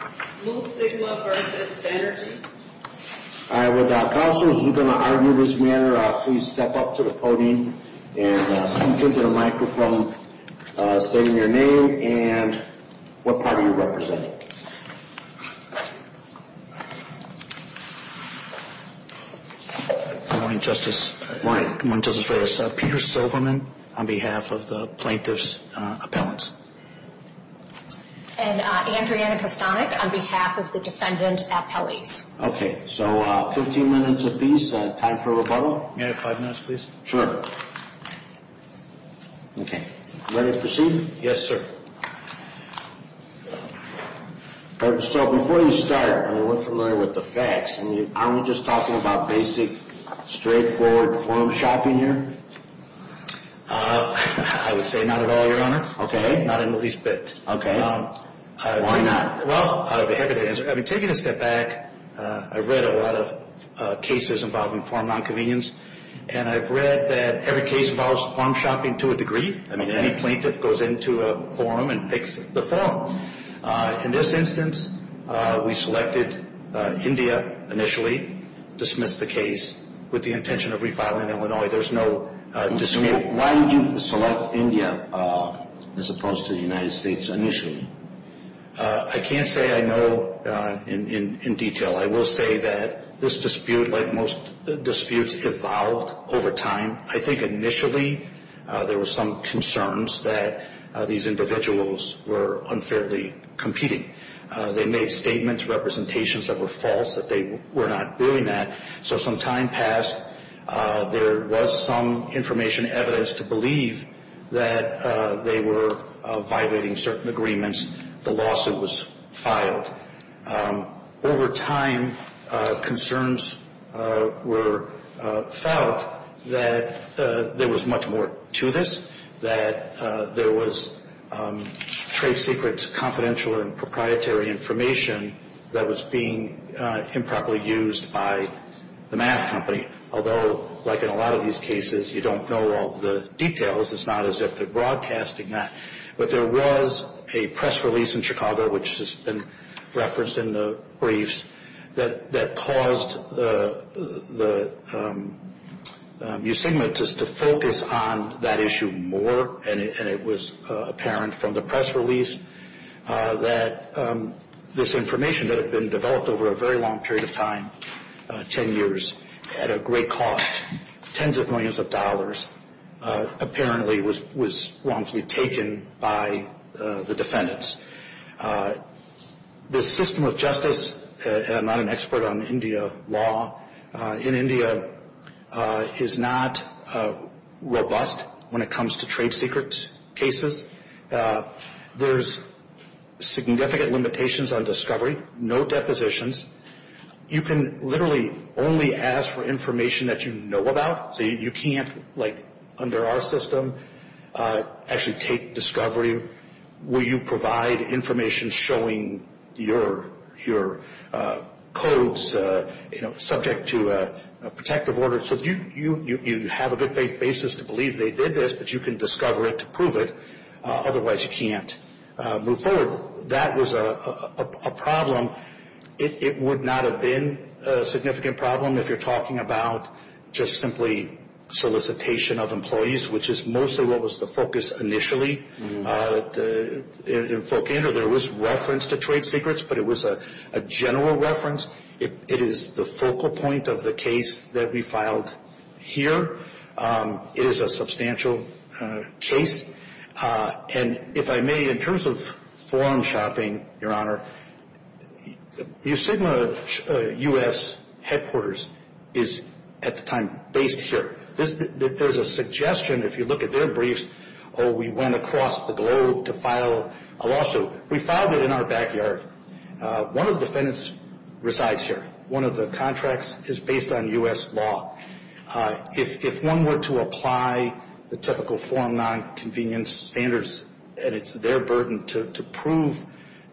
Alright, without counselors who are going to argue this manner, please step up to the podium and speak into the microphone stating your name and what party you're representing. Good morning, Justice, good morning, Justice Reyes. Peter Silverman on behalf of the plaintiff's appellants. And Andrea Kostanek on behalf of the defendant appellees. Okay, so 15 minutes apiece, time for rebuttal. May I have five minutes, please? Sure. Okay, ready to proceed? Yes, sir. So before you start, I mean, we're familiar with the facts. I mean, aren't we just talking about basic, straightforward forum shopping here? I would say not at all, Your Honor. Okay. Not in the least bit. Okay. Why not? Well, I'd be happy to answer. I mean, taking a step back, I've read a lot of cases involving forum non-convenience, and I've read that every case involves forum shopping to a degree. I mean, any plaintiff goes into a forum and picks the forum. In this instance, we selected India initially, dismissed the case with the intention of refiling Illinois. There's no dispute. Why did you select India as opposed to the United States initially? I can't say I know in detail. I will say that this dispute, like most disputes, evolved over time. I think initially there were some concerns that these individuals were unfairly competing. They made statements, representations that were false, that they were not doing that. So some time passed. There was some information, evidence to believe that they were violating certain agreements. The lawsuit was filed. Over time, concerns were felt that there was much more to this, that there was trade secrets, confidential and proprietary information that was being improperly used by the math company. Although, like in a lot of these cases, you don't know all the details. It's not as if they're broadcasting that. But there was a press release in Chicago, which has been referenced in the briefs, that caused the USIGMA to focus on that issue more. And it was apparent from the press release that this information that had been developed over a very long period of time, 10 years, at a great cost, tens of millions of dollars, apparently was wrongfully taken by the defendants. This system of justice, and I'm not an expert on India law, in India is not robust when it comes to trade secret cases. There's significant limitations on discovery. No depositions. You can literally only ask for information that you know about. So you can't, like under our system, actually take discovery. Will you provide information showing your codes subject to a protective order? So you have a good faith basis to believe they did this, but you can discover it to prove it. Otherwise, you can't move forward. That was a problem. It would not have been a significant problem if you're talking about just simply solicitation of employees, which is mostly what was the focus initially. There was reference to trade secrets, but it was a general reference. It is the focal point of the case that we filed here. It is a substantial case. And if I may, in terms of forum shopping, your honor, USIGMA headquarters is at the time based here. There's a suggestion, if you look at their briefs, oh, we went across the globe to file a lawsuit. We filed it in our backyard. One of the defendants resides here. One of the contracts is based on US law. If one were to apply the typical forum non-convenience standards, and it's their burden to prove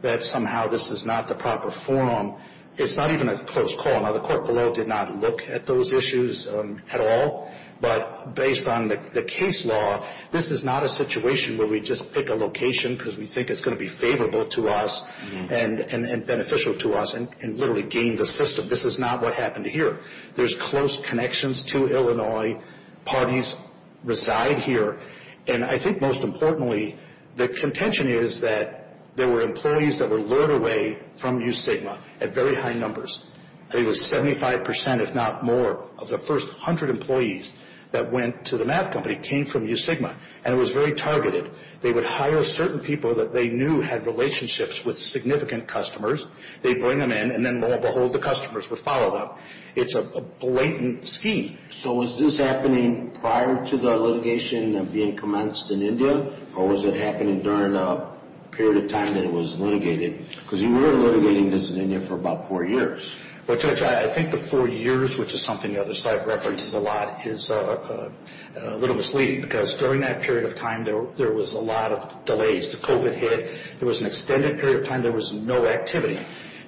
that somehow this is not the proper forum, it's not even a close call. Now, the court below did not look at those issues at all. But based on the case law, this is not a situation where we just pick a location because we think it's going to be favorable to us and beneficial to us and literally gain the system. This is not what happened here. There's close connections to Illinois. Parties reside here. And I think most importantly, the contention is that there were employees that were lured away from USIGMA at very high numbers. I think it was 75 percent, if not more, of the first hundred employees that went to the math company came from USIGMA. And it was very targeted. They would hire certain people that they knew had relationships with significant customers. They'd bring them in. And then, lo and behold, the customers would follow them. It's a blatant scheme. So was this happening prior to the litigation being commenced in India? Or was it happening during the period of time that it was litigated? Because you were litigating this in India for about four years. Well, Judge, I think the four years, which is something the other side references a lot, is a little misleading. Because during that period of time, there was a lot of delays. The COVID hit. There was an extended period of time. There was no activity.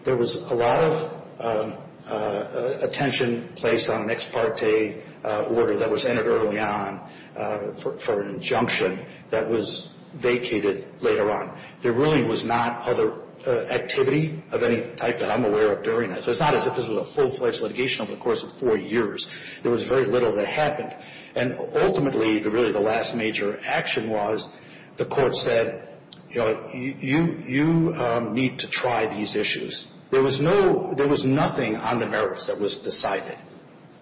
There was a lot of attention placed on an ex parte order that was entered early on for an injunction that was vacated later on. There really was not other activity of any type that I'm aware of during that. So it's not as if this was a full-fledged litigation over the course of four years. There was very little that happened. And ultimately, really the last major action was, the court said, you know, you need to try these issues. There was no, there was nothing on the merits that was decided.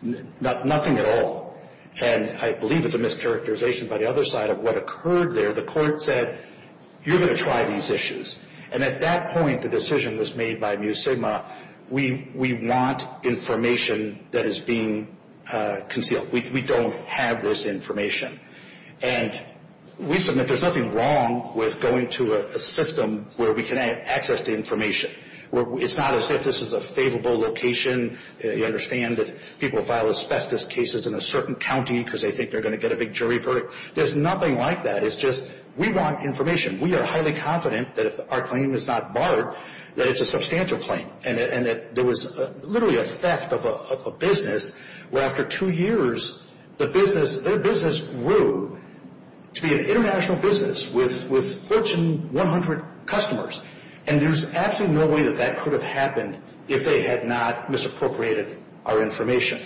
Nothing at all. And I believe it's a mischaracterization by the other side of what occurred there. The court said, you're going to try these issues. And at that point, the decision was made by Mu Sigma. We want information that is being concealed. We don't have this information. And we submit there's nothing wrong with going to a system where we can access the information. It's not as if this is a favorable location. You understand that people file asbestos cases in a certain county because they think they're going to get a big jury verdict. There's nothing like that. It's just, we want information. We are highly confident that if our claim is not barred, that it's a substantial claim. And there was literally a theft of a business where after two years, the business, their business grew to be an international business with Fortune 100 customers. And there's absolutely no way that that could have happened if they had not misappropriated our information.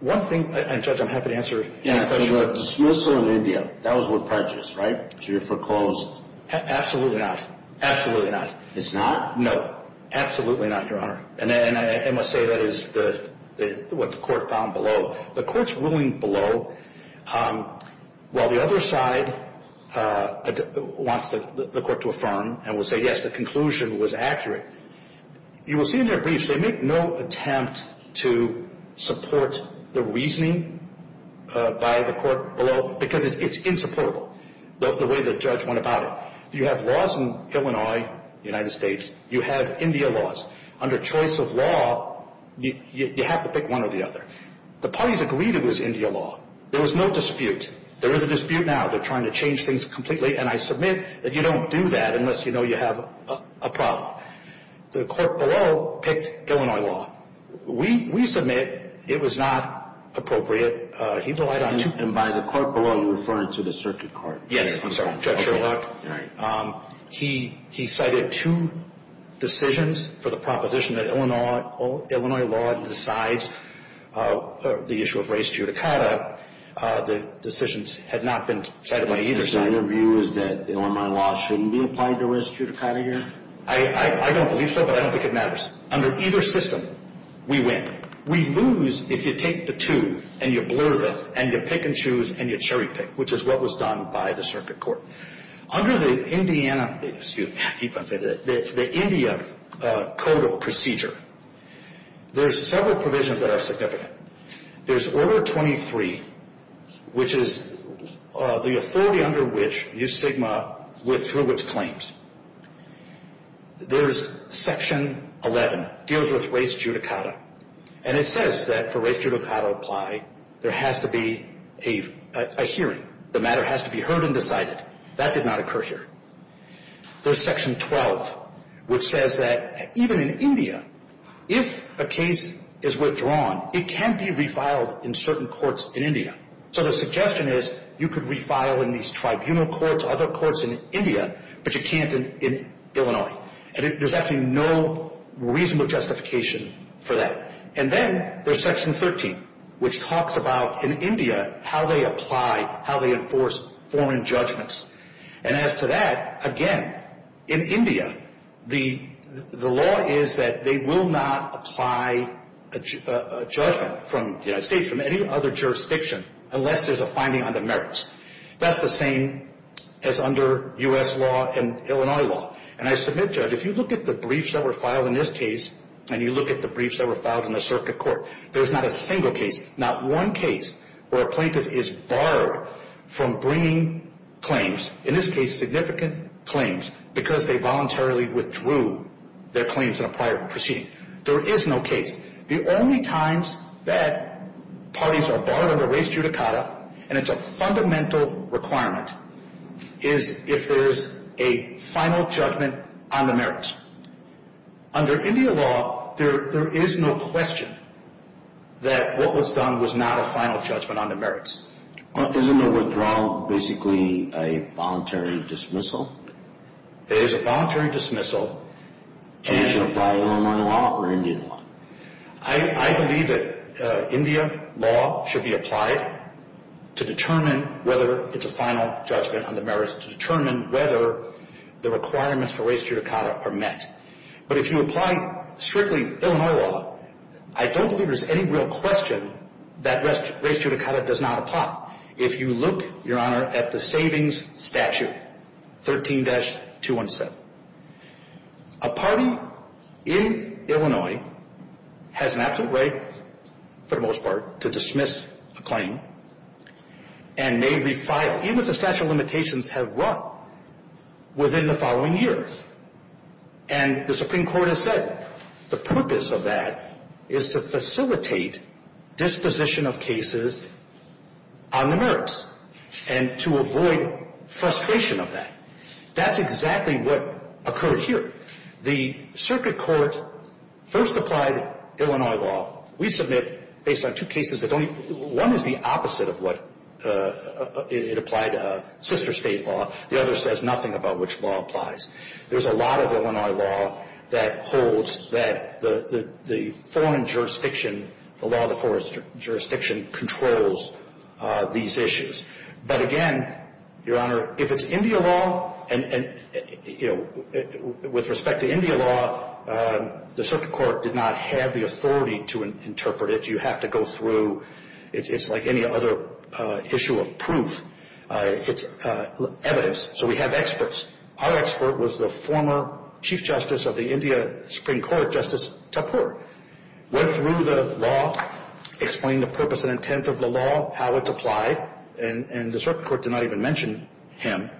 One thing, and Judge, I'm happy to answer any questions. In the dismissal in India, that was what purchased, right? So you foreclosed? Absolutely not. Absolutely not. It's not? No. Absolutely not, Your Honor. And I must say that is what the court found below. The court's ruling below, while the other side wants the court to affirm and will say, yes, the conclusion was accurate, you will see in their briefs, they make no attempt to support the reasoning by the court below, because it's insupportable, the way the judge went about it. You have laws in Illinois, United States. You have India laws. Under choice of law, you have to pick one or the other. The parties agreed it was India law. There was no dispute. There is a dispute now. They're trying to change things completely. And I submit that you don't do that unless you know you have a problem. The court below picked Illinois law. We submit it was not appropriate. And by the court below, you're referring to the circuit court? Yes, Judge Sherlock. He cited two decisions for the proposition that Illinois law decides the issue of race judicata. The decisions had not been decided by either side. So your view is that Illinois law shouldn't be applied to race judicata here? I don't believe so, but I don't think it matters. Under either system, we win. We lose if you take the two and you blur them and you pick and choose and you cherry pick, which is what was done by the circuit court. Under the India CODO procedure, there's several provisions that are significant. There's Order 23, which is the authority under which U Sigma withdrew its claims. There's Section 11, deals with race judicata. And it says that for race judicata to apply, there has to be a hearing. The matter has to be heard and decided. That did not occur here. There's Section 12, which says that even in India, if a case is withdrawn, it can be refiled in certain courts in India. So the suggestion is you could refile in these tribunal courts, other courts in India, but you can't in Illinois. And there's actually no reasonable justification for that. And then there's Section 13, which talks about, in India, how they apply, how they enforce foreign judgments. And as to that, again, in India, the law is that they will not apply a judgment from the United States from any other jurisdiction unless there's a finding on the merits. That's the same as under U.S. law and Illinois law. And I submit, Judge, if you look at the briefs that were filed in this case and you look at the briefs that were filed in the circuit court, there's not a single case, not one case, where a plaintiff is barred from bringing claims, in this case significant claims, because they voluntarily withdrew their claims in a prior proceeding. There is no case. The only times that parties are barred under race judicata, and it's a fundamental requirement, is if there's a final judgment on the merits. Under India law, there is no question that what was done was not a final judgment on the merits. Isn't the withdrawal basically a voluntary dismissal? It is a voluntary dismissal. And it should apply to Illinois law or India law? I believe that India law should be applied to determine whether it's a final judgment on the merits to determine whether the requirements for race judicata are met. But if you apply strictly Illinois law, I don't believe there's any real question that race judicata does not apply. If you look, Your Honor, at the savings statute, 13-217, a party in Illinois has an absolute right, for the most part, to dismiss a claim and may refile. But even the statute of limitations have run within the following years. And the Supreme Court has said the purpose of that is to facilitate disposition of cases on the merits and to avoid frustration of that. That's exactly what occurred here. The circuit court first applied Illinois law. We submit, based on two cases, that only one is the opposite of what it applied to, sister State law. The other says nothing about which law applies. There's a lot of Illinois law that holds that the foreign jurisdiction, the law of the foreign jurisdiction, controls these issues. But again, Your Honor, if it's India law, and, you know, with respect to India law, the circuit court did not have the authority to interpret it. You have to go through. It's like any other issue of proof. It's evidence. So we have experts. Our expert was the former Chief Justice of the India Supreme Court, Justice Tapur. Went through the law, explained the purpose and intent of the law, how it's applied, and the circuit court did not even mention him.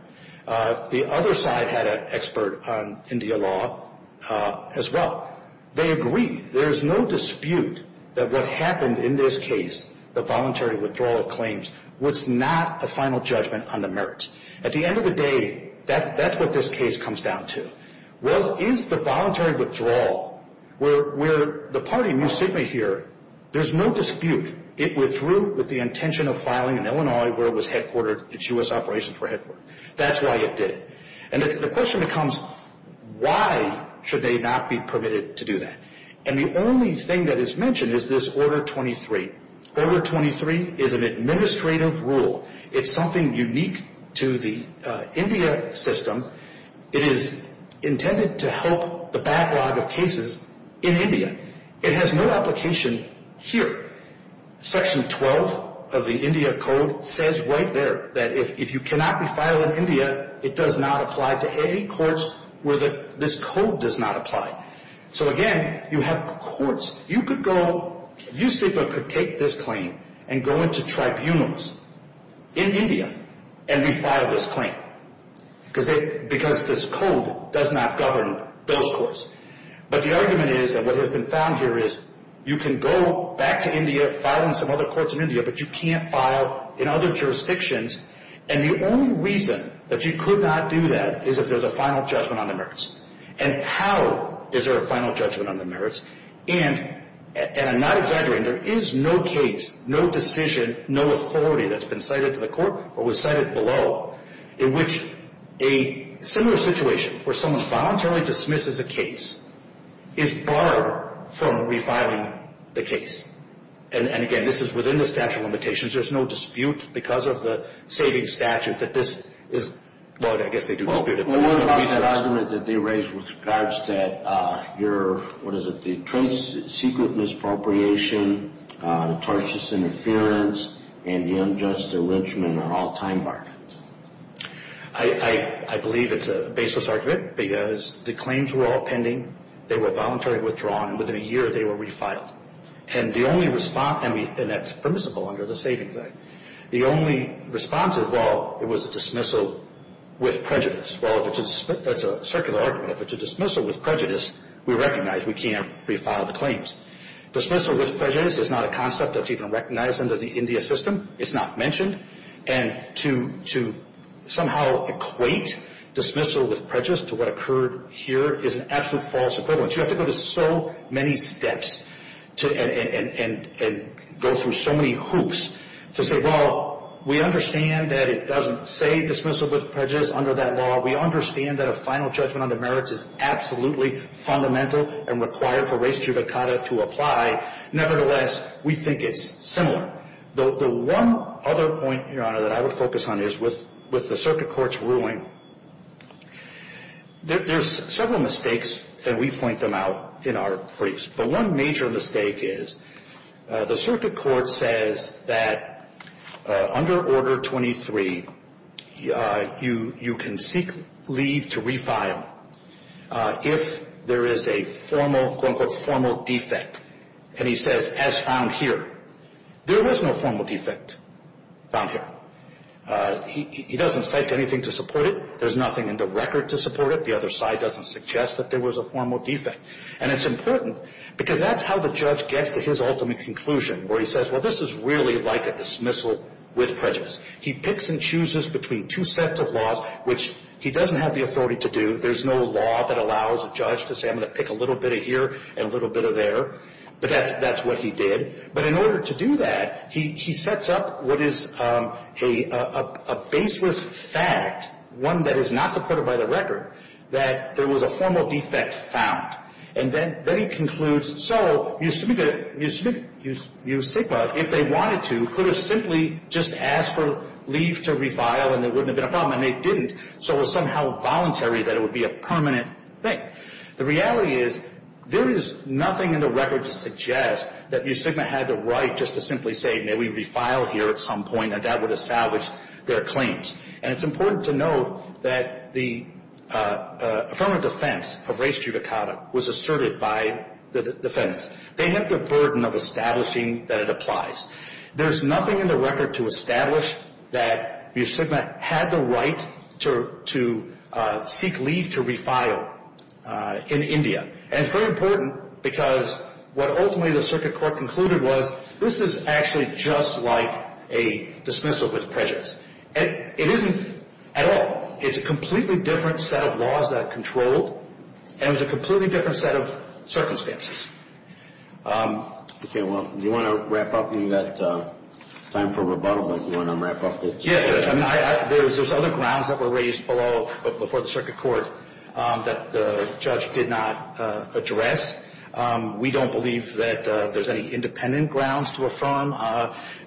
The other side had an expert on India law as well. They agreed. There's no dispute that what happened in this case, the voluntary withdrawal of claims, was not a final judgment on the merits. At the end of the day, that's what this case comes down to. Well, is the voluntary withdrawal, where the party knew Sigma here, there's no dispute. It withdrew with the intention of filing in Illinois, where it was headquartered, its U.S. operations were headquartered. That's why it did it. And the question becomes, why should they not be permitted to do that? And the only thing that is mentioned is this Order 23. Order 23 is an administrative rule. It's something unique to the India system. It is intended to help the backlog of cases in India. It has no application here. Section 12 of the India Code says right there that if you cannot be filed in India, it does not apply to any courts where this code does not apply. So, again, you have courts. You could go, USIPA could take this claim and go into tribunals in India and refile this claim because this code does not govern those courts. But the argument is that what has been found here is you can go back to India, file in some other courts in India, but you can't file in other jurisdictions. And the only reason that you could not do that is if there's a final judgment on the merits. And how is there a final judgment on the merits? And I'm not exaggerating. There is no case, no decision, no authority that's been cited to the court or was cited below in which a similar situation where someone voluntarily dismisses a case is barred from refiling the case. And, again, this is within the statute of limitations. There's no dispute because of the saving statute that this is what I guess they do. Well, what about that argument that they raised with regards to your, what is it, the secret misappropriation, the tortious interference, and the unjust arrengement are all time bargains? I believe it's a baseless argument because the claims were all pending. They were voluntarily withdrawn, and within a year they were refiled. And the only response, and that's permissible under the savings act, the only response is, well, it was a dismissal with prejudice. Well, that's a circular argument. But to dismissal with prejudice, we recognize we can't refile the claims. Dismissal with prejudice is not a concept that's even recognized under the India system. It's not mentioned. And to somehow equate dismissal with prejudice to what occurred here is an absolute false equivalence. You have to go to so many steps and go through so many hoops to say, well, we understand that it doesn't say dismissal with prejudice under that law. We understand that a final judgment on the merits is absolutely fundamental and required for res judicata to apply. Nevertheless, we think it's similar. The one other point, Your Honor, that I would focus on is with the circuit court's ruling, there's several mistakes, and we point them out in our briefs. But one major mistake is the circuit court says that under Order 23, you can seek leave to refile if there is a formal, quote, unquote, formal defect. And he says, as found here. There was no formal defect found here. He doesn't cite anything to support it. There's nothing in the record to support it. The other side doesn't suggest that there was a formal defect. And it's important because that's how the judge gets to his ultimate conclusion where he says, well, this is really like a dismissal with prejudice. He picks and chooses between two sets of laws, which he doesn't have the authority to do. There's no law that allows a judge to say I'm going to pick a little bit of here and a little bit of there. But that's what he did. But in order to do that, he sets up what is a baseless fact, one that is not supported by the record, that there was a formal defect found. And then he concludes, so Mu Sigma, if they wanted to, could have simply just asked for leave to refile and there wouldn't have been a problem. And they didn't. So it was somehow voluntary that it would be a permanent thing. The reality is there is nothing in the record to suggest that Mu Sigma had the right just to simply say, may we refile here at some point, and that would have salvaged their claims. And it's important to note that the affirmative defense of race judicata was asserted by the defendants. They have the burden of establishing that it applies. There's nothing in the record to establish that Mu Sigma had the right to seek leave to refile in India. And it's very important because what ultimately the circuit court concluded was, this is actually just like a dismissal with prejudice. It isn't at all. It's a completely different set of laws that are controlled. And it was a completely different set of circumstances. Okay. Well, do you want to wrap up? We've got time for rebuttal. Do you want to wrap up? Yes. I mean, there's other grounds that were raised before the circuit court that the judge did not address. We don't believe that there's any independent grounds to affirm.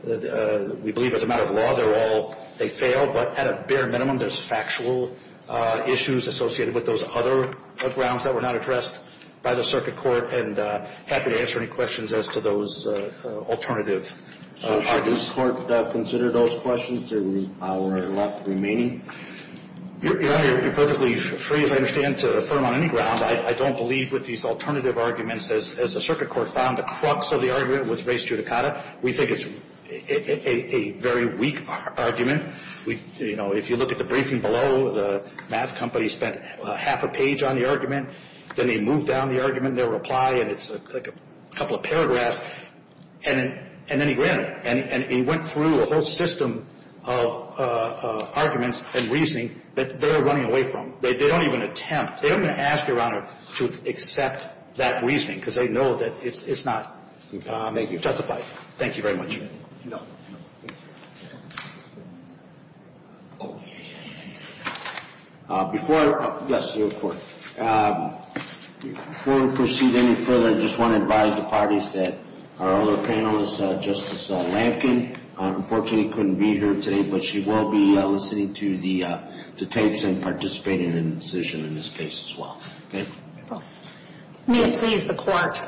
We believe as a matter of law, they're all they fail, but at a bare minimum, there's factual issues associated with those other grounds that were not addressed by the circuit court, and happy to answer any questions as to those alternative arguments. So should the court consider those questions in our left remaining? Your Honor, you're perfectly free, as I understand, to affirm on any ground. I don't believe with these alternative arguments, as the circuit court found, the crux of the argument was race judicata. We think it's a very weak argument. You know, if you look at the briefing below, the math company spent half a page on the argument. Then they moved down the argument in their reply, and it's like a couple of And then he ran it. And he went through a whole system of arguments and reasoning that they're running away from. They don't even attempt. They don't even ask, Your Honor, to accept that reasoning because they know that it's not justified. Thank you very much. Before we proceed any further, I just want to advise the parties that our other panelist, Justice Lampkin, unfortunately couldn't be here today, but she will be listening to the tapes and participating in the decision in this case as well. Thank you. May it please the Court.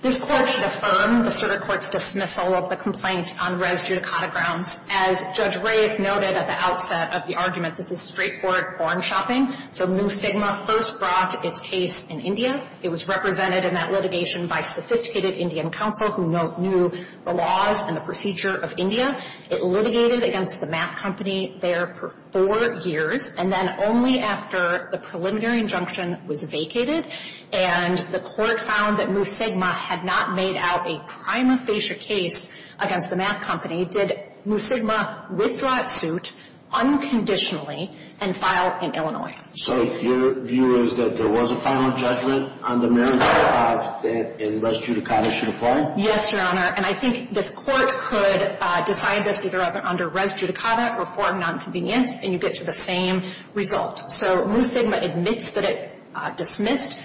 This Court should affirm the circuit court's dismissal of the complaint on res judicata grounds. As Judge Reyes noted at the outset of the argument, this is straightforward pawn shopping. So Mu Sigma first brought its case in India. It was represented in that litigation by sophisticated Indian counsel who knew the laws and the procedure of India. It litigated against the math company there for four years, and then only after the preliminary injunction was vacated and the Court found that Mu Sigma had not made out a prima facie case against the math company, did Mu Sigma withdraw its suit unconditionally and file in Illinois. So your view is that there was a final judgment on the merits of that and res judicata should apply? Yes, Your Honor. And I think this Court could decide this either under res judicata or foreign nonconvenience, and you get to the same result. So Mu Sigma admits that it dismissed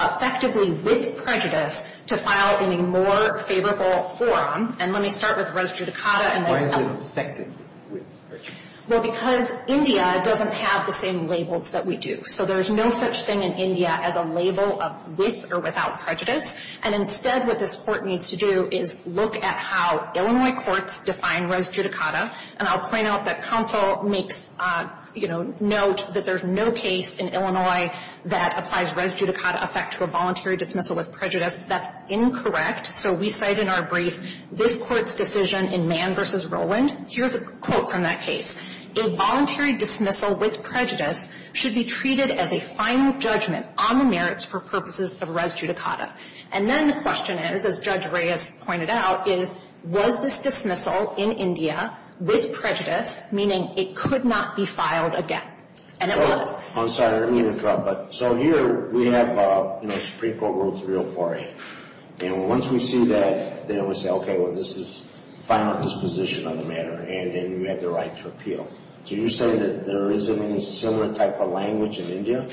effectively with prejudice to file in a more favorable forum. And let me start with res judicata. Why is it dissected with prejudice? Well, because India doesn't have the same labels that we do. So there's no such thing in India as a label of with or without prejudice. And instead what this Court needs to do is look at how Illinois courts define res There's no case in Illinois that applies res judicata effect to a voluntary dismissal with prejudice. That's incorrect. So we cite in our brief this Court's decision in Mann v. Rowland. Here's a quote from that case. A voluntary dismissal with prejudice should be treated as a final judgment on the merits for purposes of res judicata. And then the question is, as Judge Reyes pointed out, is was this dismissal in India with prejudice, meaning it could not be filed again? And it was. I'm sorry. Let me interrupt. So here we have, you know, Supreme Court Rule 304A. And once we see that, then we say, okay, well, this is final disposition on the matter. And then you have the right to appeal. So you're saying that there isn't any similar type of language in India?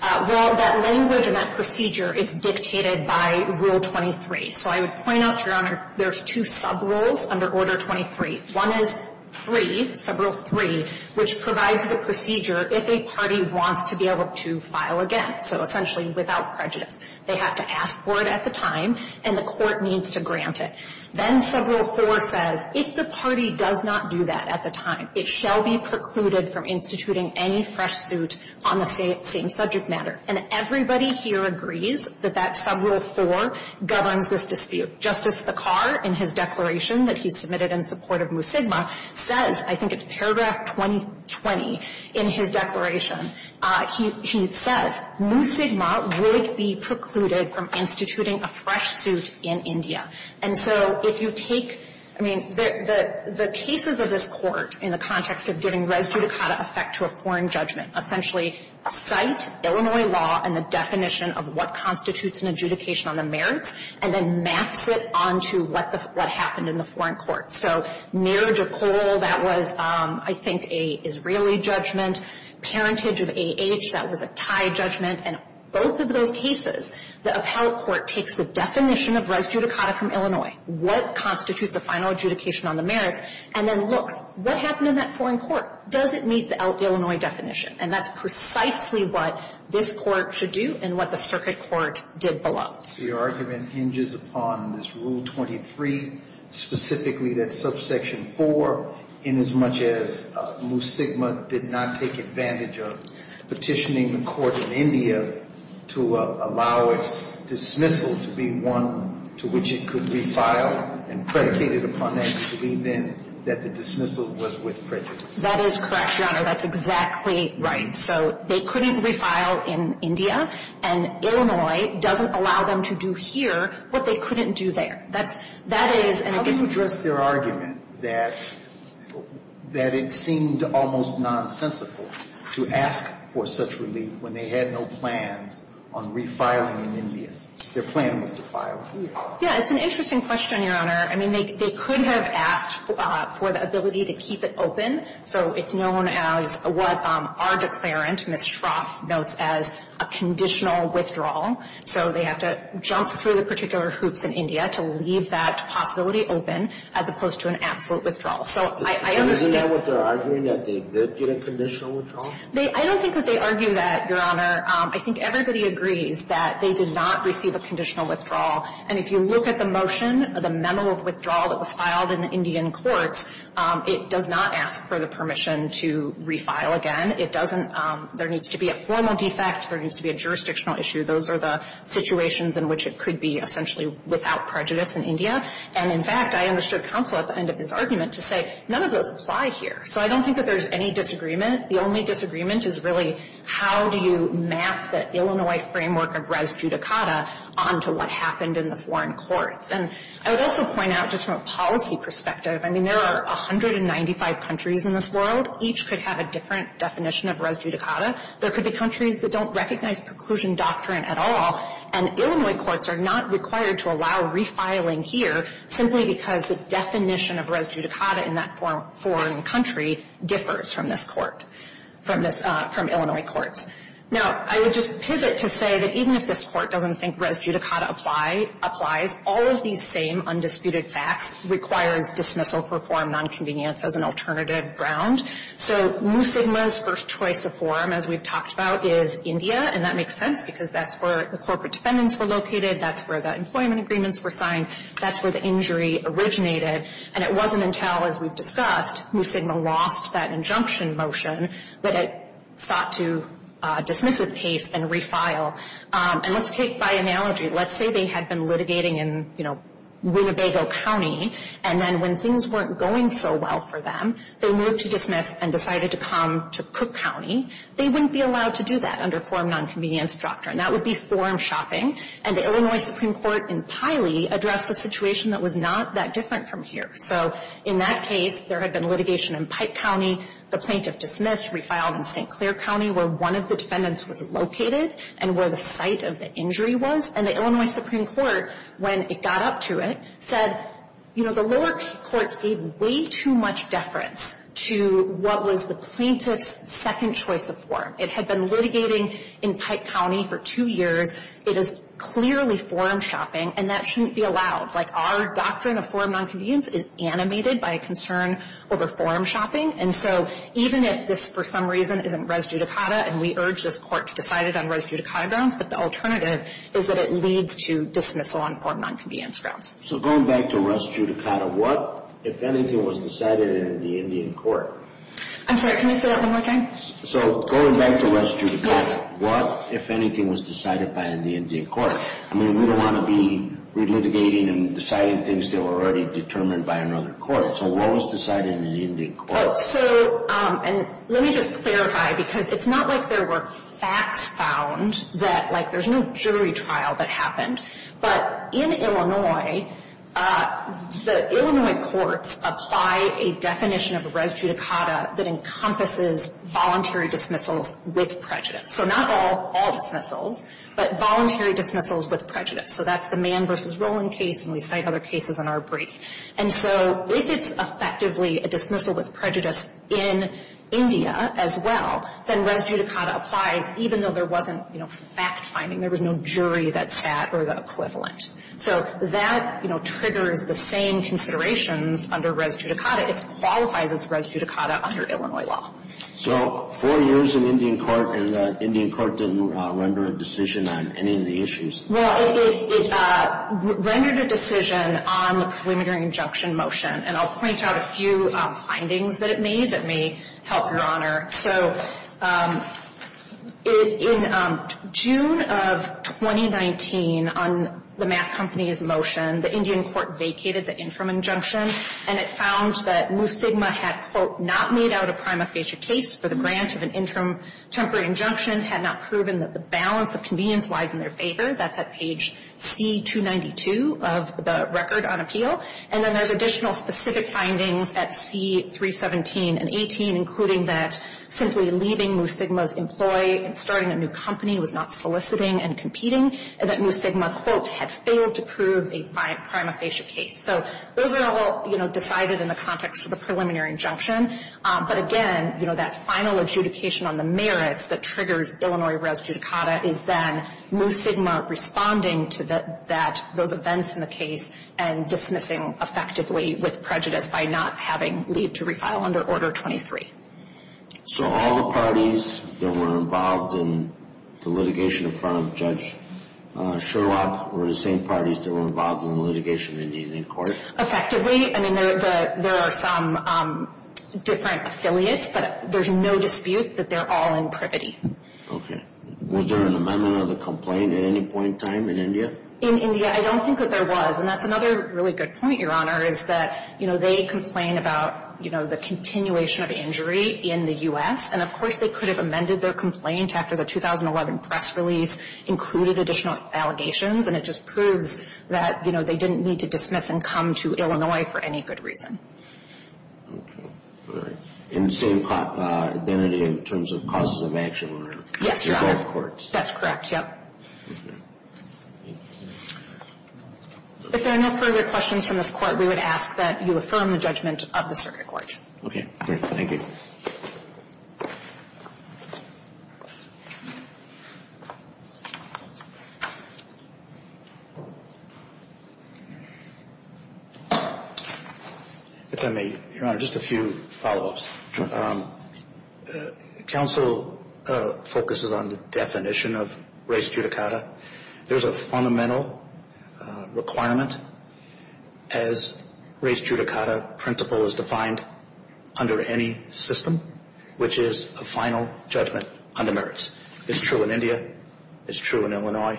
Well, that language and that procedure is dictated by Rule 23. So I would point out, Your Honor, there's two sub-rules under Order 23. One is 3, Sub-Rule 3, which provides the procedure if a party wants to be able to file again, so essentially without prejudice. They have to ask for it at the time, and the court needs to grant it. Then Sub-Rule 4 says if the party does not do that at the time, it shall be precluded from instituting any fresh suit on the same subject matter. And everybody here agrees that that Sub-Rule 4 governs this dispute. Justice Sikar, in his declaration that he submitted in support of Musigma, says, I think it's paragraph 2020 in his declaration, he says, Musigma would be precluded from instituting a fresh suit in India. And so if you take, I mean, the cases of this Court in the context of giving res judicata effect to a foreign judgment, essentially cite Illinois law and the definition of what constitutes an adjudication on the merits, and then maps it onto what the what happened in the foreign court. So near Jekyll, that was, I think, a Israeli judgment. Parentage of A.H., that was a Thai judgment. And both of those cases, the Appellate Court takes the definition of res judicata from Illinois, what constitutes a final adjudication on the merits, and then looks, what happened in that foreign court? Does it meet the Illinois definition? And that's precisely what this Court should do and what the circuit court did below. So your argument hinges upon this Rule 23, specifically that subsection 4, inasmuch as Musigma did not take advantage of petitioning the court in India to allow its dismissal to be one to which it could be filed and predicated upon and to believe then that the dismissal was with prejudice. That is correct, Your Honor. That's exactly right. So they couldn't refile in India, and Illinois doesn't allow them to do here what they couldn't do there. That is, and it gets How do you address their argument that it seemed almost nonsensical to ask for such relief when they had no plans on refiling in India? Their plan was to file here. Yeah, it's an interesting question, Your Honor. I mean, they could have asked for the ability to keep it open. So it's known as what our declarant, Ms. Shroff, notes as a conditional withdrawal. So they have to jump through the particular hoops in India to leave that possibility open as opposed to an absolute withdrawal. So I understand Isn't that what they're arguing, that they did get a conditional withdrawal? I don't think that they argue that, Your Honor. I think everybody agrees that they did not receive a conditional withdrawal. And if you look at the motion, the memo of withdrawal that was filed in the Indian courts, it does not ask for the permission to refile again. It doesn't There needs to be a formal defect. There needs to be a jurisdictional issue. Those are the situations in which it could be essentially without prejudice in India. And, in fact, I understood counsel at the end of this argument to say none of those apply here. So I don't think that there's any disagreement. The only disagreement is really how do you map the Illinois framework of res judicata onto what happened in the foreign courts. And I would also point out just from a policy perspective, I mean, there are 195 countries in this world. Each could have a different definition of res judicata. There could be countries that don't recognize preclusion doctrine at all, and Illinois courts are not required to allow refiling here simply because the definition of res judicata in that foreign country differs from this Court, from this – from Illinois courts. Now, I would just pivot to say that even if this Court doesn't think res judicata applies, all of these same undisputed facts requires dismissal for form nonconvenience as an alternative ground. So Mu Sigma's first choice of forum, as we've talked about, is India, and that makes sense because that's where the corporate defendants were located, that's where the employment agreements were signed, that's where the injury originated. And it wasn't until, as we've discussed, Mu Sigma lost that injunction motion that it sought to dismiss its case and refile. And let's take by analogy, let's say they had been litigating in, you know, Winnebago County, and then when things weren't going so well for them, they moved to dismiss and decided to come to Cook County. They wouldn't be allowed to do that under form nonconvenience doctrine. That would be forum shopping. And the Illinois Supreme Court in Piley addressed a situation that was not that different from here. So in that case, there had been litigation in Pike County, the plaintiff dismissed, refiled in St. Clair County, where one of the defendants was located and where the site of the injury was. And the Illinois Supreme Court, when it got up to it, said, you know, the lower courts gave way too much deference to what was the plaintiff's second choice of forum. It had been litigating in Pike County for two years. It is clearly forum shopping, and that shouldn't be allowed. Like, our doctrine of forum nonconvenience is animated by a concern over forum shopping. And so even if this, for some reason, isn't res judicata, and we urge this court to decide it on res judicata grounds, but the alternative is that it leads to dismissal on forum nonconvenience grounds. So going back to res judicata, what, if anything, was decided in the Indian court? I'm sorry, can you say that one more time? So going back to res judicata, what, if anything, was decided by the Indian court? I mean, we don't want to be relitigating and deciding things that were already determined by another court. So what was decided in the Indian court? So, and let me just clarify, because it's not like there were facts found that, like, there's no jury trial that happened. But in Illinois, the Illinois courts apply a definition of res judicata that encompasses voluntary dismissals with prejudice. So not all dismissals, but voluntary dismissals with prejudice. So that's the Mann v. Roland case, and we cite other cases in our brief. And so if it's effectively a dismissal with prejudice in India as well, then res judicata applies, even though there wasn't, you know, fact finding. There was no jury that sat or the equivalent. So that, you know, triggers the same considerations under res judicata. It qualifies as res judicata under Illinois law. So four years in Indian court, and the Indian court didn't render a decision on any of the issues? Well, it rendered a decision on the preliminary injunction motion. And I'll point out a few findings that it made that may help, Your Honor. So in June of 2019, on the Mapp Company's motion, the Indian court vacated the interim injunction, and it found that Mu Sigma had, quote, not made out a prima facie case for the grant of an interim temporary injunction, had not proven that the balance of convenience lies in their favor. That's at page C-292 of the record on appeal. And then there's additional specific findings at C-317 and 18, including that simply leaving Mu Sigma's employee and starting a new company was not soliciting and competing, and that Mu Sigma, quote, had failed to prove a prima facie case. So those are all, you know, decided in the context of the preliminary injunction. But again, you know, that final adjudication on the merits that triggers Illinois res judicata is then Mu Sigma responding to those events in the case and dismissing effectively with prejudice by not having leave to refile under Order 23. So all the parties that were involved in the litigation in front of Judge Sherlock were the same parties that were involved in the litigation in court? Effectively. I mean, there are some different affiliates, but there's no dispute that they're all in privity. Okay. Was there an amendment of the complaint at any point in time in India? In India, I don't think that there was. And that's another really good point, Your Honor, is that, you know, they complain about, you know, the continuation of injury in the U.S. And, of course, they could have amended their complaint after the 2011 press release included additional allegations. And it just proves that, you know, they didn't need to dismiss and come to Illinois for any good reason. Okay. In the same identity in terms of causes of action? Yes, Your Honor. In both courts. That's correct, yes. Okay. If there are no further questions from this Court, we would ask that you affirm the judgment of the circuit court. Okay. Thank you. If I may, Your Honor, just a few follow-ups. Sure. Counsel focuses on the definition of res judicata. There's a fundamental requirement, as res judicata principle is defined, under any state which is a final judgment on the merits. It's true in India. It's true in Illinois.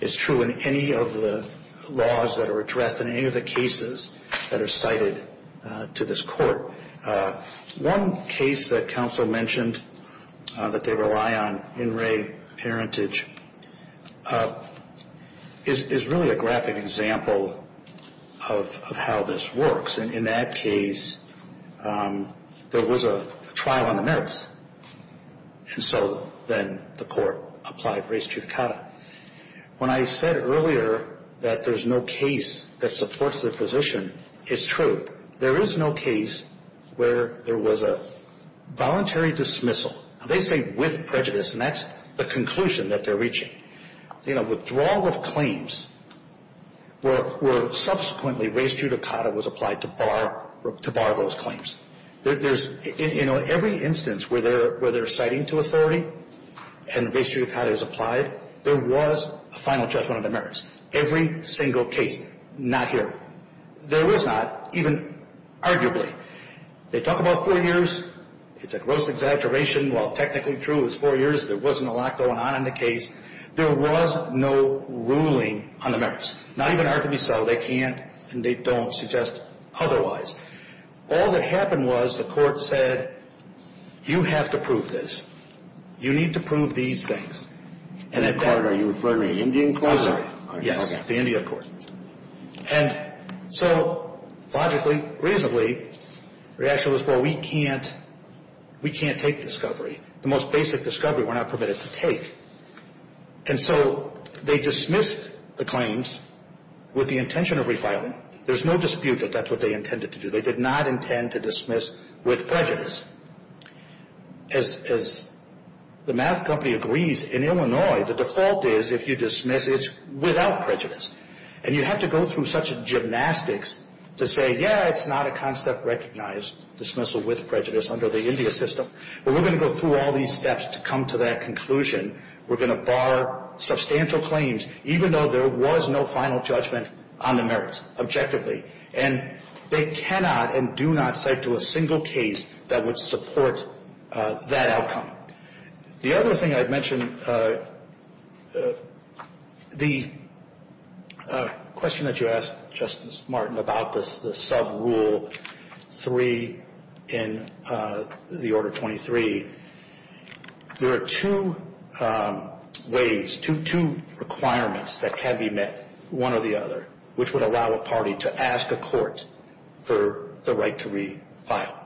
It's true in any of the laws that are addressed in any of the cases that are cited to this court. One case that counsel mentioned that they rely on, In Re Parentage, is really a graphic example of how this works. In that case, there was a trial on the merits, and so then the court applied res judicata. When I said earlier that there's no case that supports their position, it's true. There is no case where there was a voluntary dismissal. They say with prejudice, and that's the conclusion that they're reaching. Withdrawal of claims where subsequently res judicata was applied to bar those claims. In every instance where they're citing to authority and res judicata is applied, there was a final judgment on the merits. Every single case, not here. There was not, even arguably. They talk about four years. It's a gross exaggeration. While technically true, it was four years. There wasn't a lot going on in the case. There was no ruling on the merits. Not even arguably so. They can't and they don't suggest otherwise. All that happened was the court said, you have to prove this. You need to prove these things. And at that point. Are you referring to the Indian court? Yes, the Indian court. And so, logically, reasonably, the reaction was, well, we can't take discovery. The most basic discovery we're not permitted to take. And so, they dismissed the claims with the intention of refiling. There's no dispute that that's what they intended to do. They did not intend to dismiss with prejudice. As the math company agrees, in Illinois, the default is if you dismiss, it's without prejudice. And you have to go through such gymnastics to say, yeah, it's not a concept recognized dismissal with prejudice under the India system. Well, we're going to go through all these steps to come to that conclusion. We're going to bar substantial claims, even though there was no final judgment on the merits, objectively. And they cannot and do not cite to a single case that would support that outcome. The other thing I'd mention, the question that you asked, Justice Martin, about the sub-rule 3 in the Order 23, there are two ways, two requirements that can be met, one or the other, which would allow a party to ask a court for the right to refile.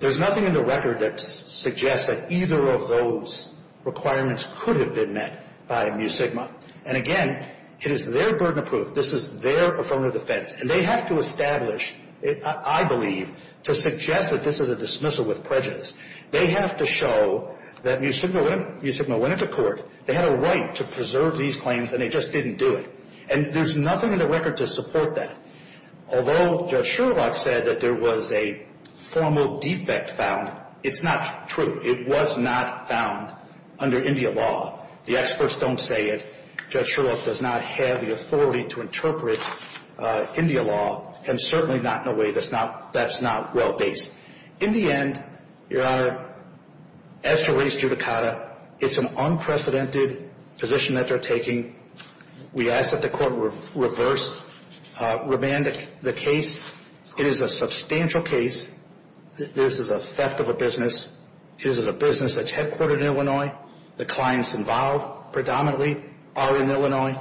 There's nothing in the record that suggests that either of those requirements could have been met by Mu Sigma. And again, it is their burden of proof. This is their affirmative defense. And they have to establish, I believe, to suggest that this is a dismissal with prejudice. They have to show that Mu Sigma went into court. They had a right to preserve these claims, and they just didn't do it. And there's nothing in the record to support that. Although Judge Sherlock said that there was a formal defect found, it's not true. It was not found under India law. The experts don't say it. Judge Sherlock does not have the authority to interpret India law, and certainly not in a way that's not well based. In the end, Your Honor, as to race judicata, it's an unprecedented position that they're taking. We ask that the court reverse remand the case. It is a substantial case. This is a theft of a business. It is a business that's headquartered in Illinois. The clients involved predominantly are in Illinois.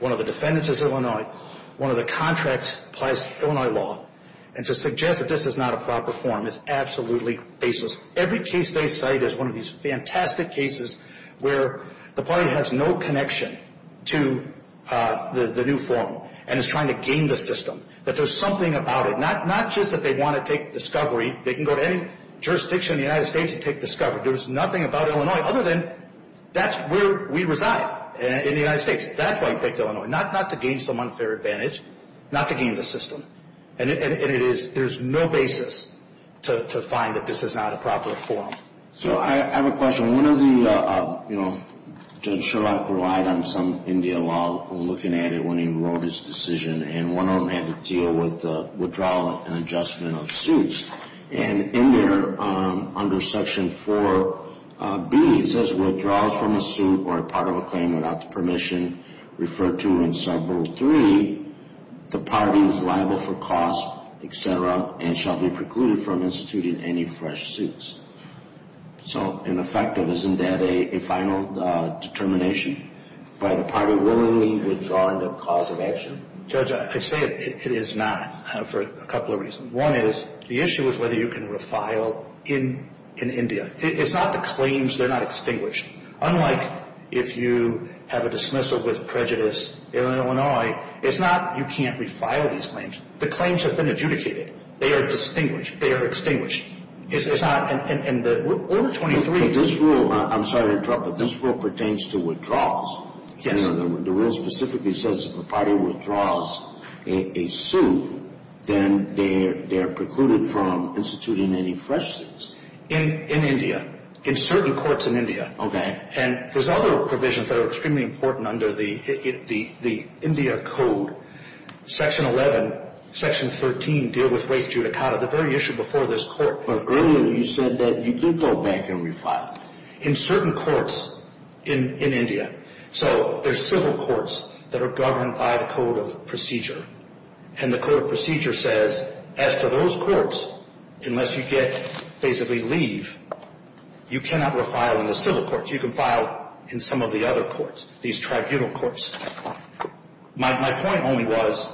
One of the defendants is Illinois. One of the contracts applies to Illinois law. And to suggest that this is not a proper form is absolutely faceless. Every case they cite is one of these fantastic cases where the party has no connection to the new form and is trying to game the system, that there's something about it. Not just that they want to take discovery. They can go to any jurisdiction in the United States and take discovery. There's nothing about Illinois other than that's where we reside in the United States. That's why he picked Illinois, not to gain some unfair advantage, not to game the system. And it is, there's no basis to find that this is not a proper form. So I have a question. One of the, you know, Judge Sherlock relied on some India law when looking at it when he wrote his decision, and one of them had to deal with the withdrawal and adjustment of suits. And in there, under Section 4B, it says withdrawals from a suit or a part of a claim without the permission referred to in Segment 3, the party is liable for cost, et cetera, and shall be precluded from instituting any fresh suits. So in effect, isn't that a final determination by the party willingly withdrawing the cause of action? Judge, I say it is not for a couple of reasons. One is the issue is whether you can refile in India. It's not the claims, they're not extinguished. Unlike if you have a dismissal with prejudice in Illinois, it's not you can't refile these claims. The claims have been adjudicated. They are distinguished. They are extinguished. It's not, and the Order 23. This rule, I'm sorry to interrupt, but this rule pertains to withdrawals. Yes. The rule specifically says if a party withdraws a suit, then they're precluded from instituting any fresh suits. In India. In certain courts in India. Okay. And there's other provisions that are extremely important under the India Code. Section 11, Section 13 deal with waived judicata, the very issue before this court. But earlier you said that you did go back and refile. In certain courts in India. So there's civil courts that are governed by the Code of Procedure. And the Code of Procedure says as to those courts, unless you get basically leave, you cannot refile in the civil courts. You can file in some of the other courts, these tribunal courts. My point only was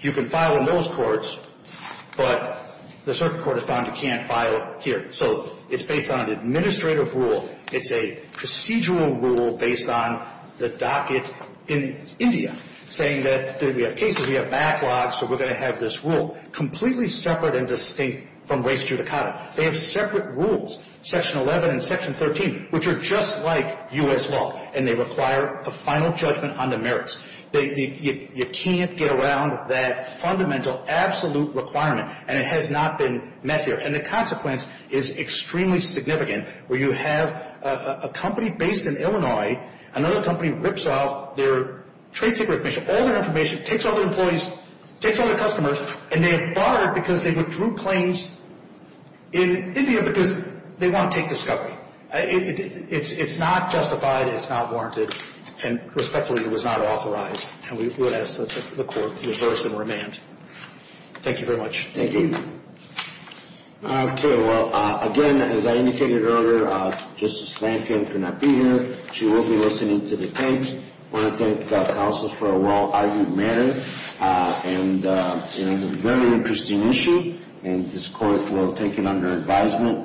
you can file in those courts, but the circuit court has found you can't file here. So it's based on an administrative rule. It's a procedural rule based on the docket in India, saying that we have cases, we have backlogs, so we're going to have this rule. Completely separate and distinct from waived judicata. They have separate rules, Section 11 and Section 13, which are just like U.S. law, and they require a final judgment on the merits. You can't get around that fundamental, absolute requirement, and it has not been met here. And the consequence is extremely significant, where you have a company based in Illinois, another company rips off their trade secret information, all their information, takes all their employees, takes all their customers, and they are barred because they withdrew claims in India because they want to take discovery. It's not justified. It's not warranted. And respectfully, it was not authorized. And we would ask that the court reverse and remand. Thank you very much. Thank you. Okay. Well, again, as I indicated earlier, Justice Lankin could not be here. She will be listening to the case. I want to thank counsel for a well-argued matter and a very interesting issue. And this court will take it under advisement.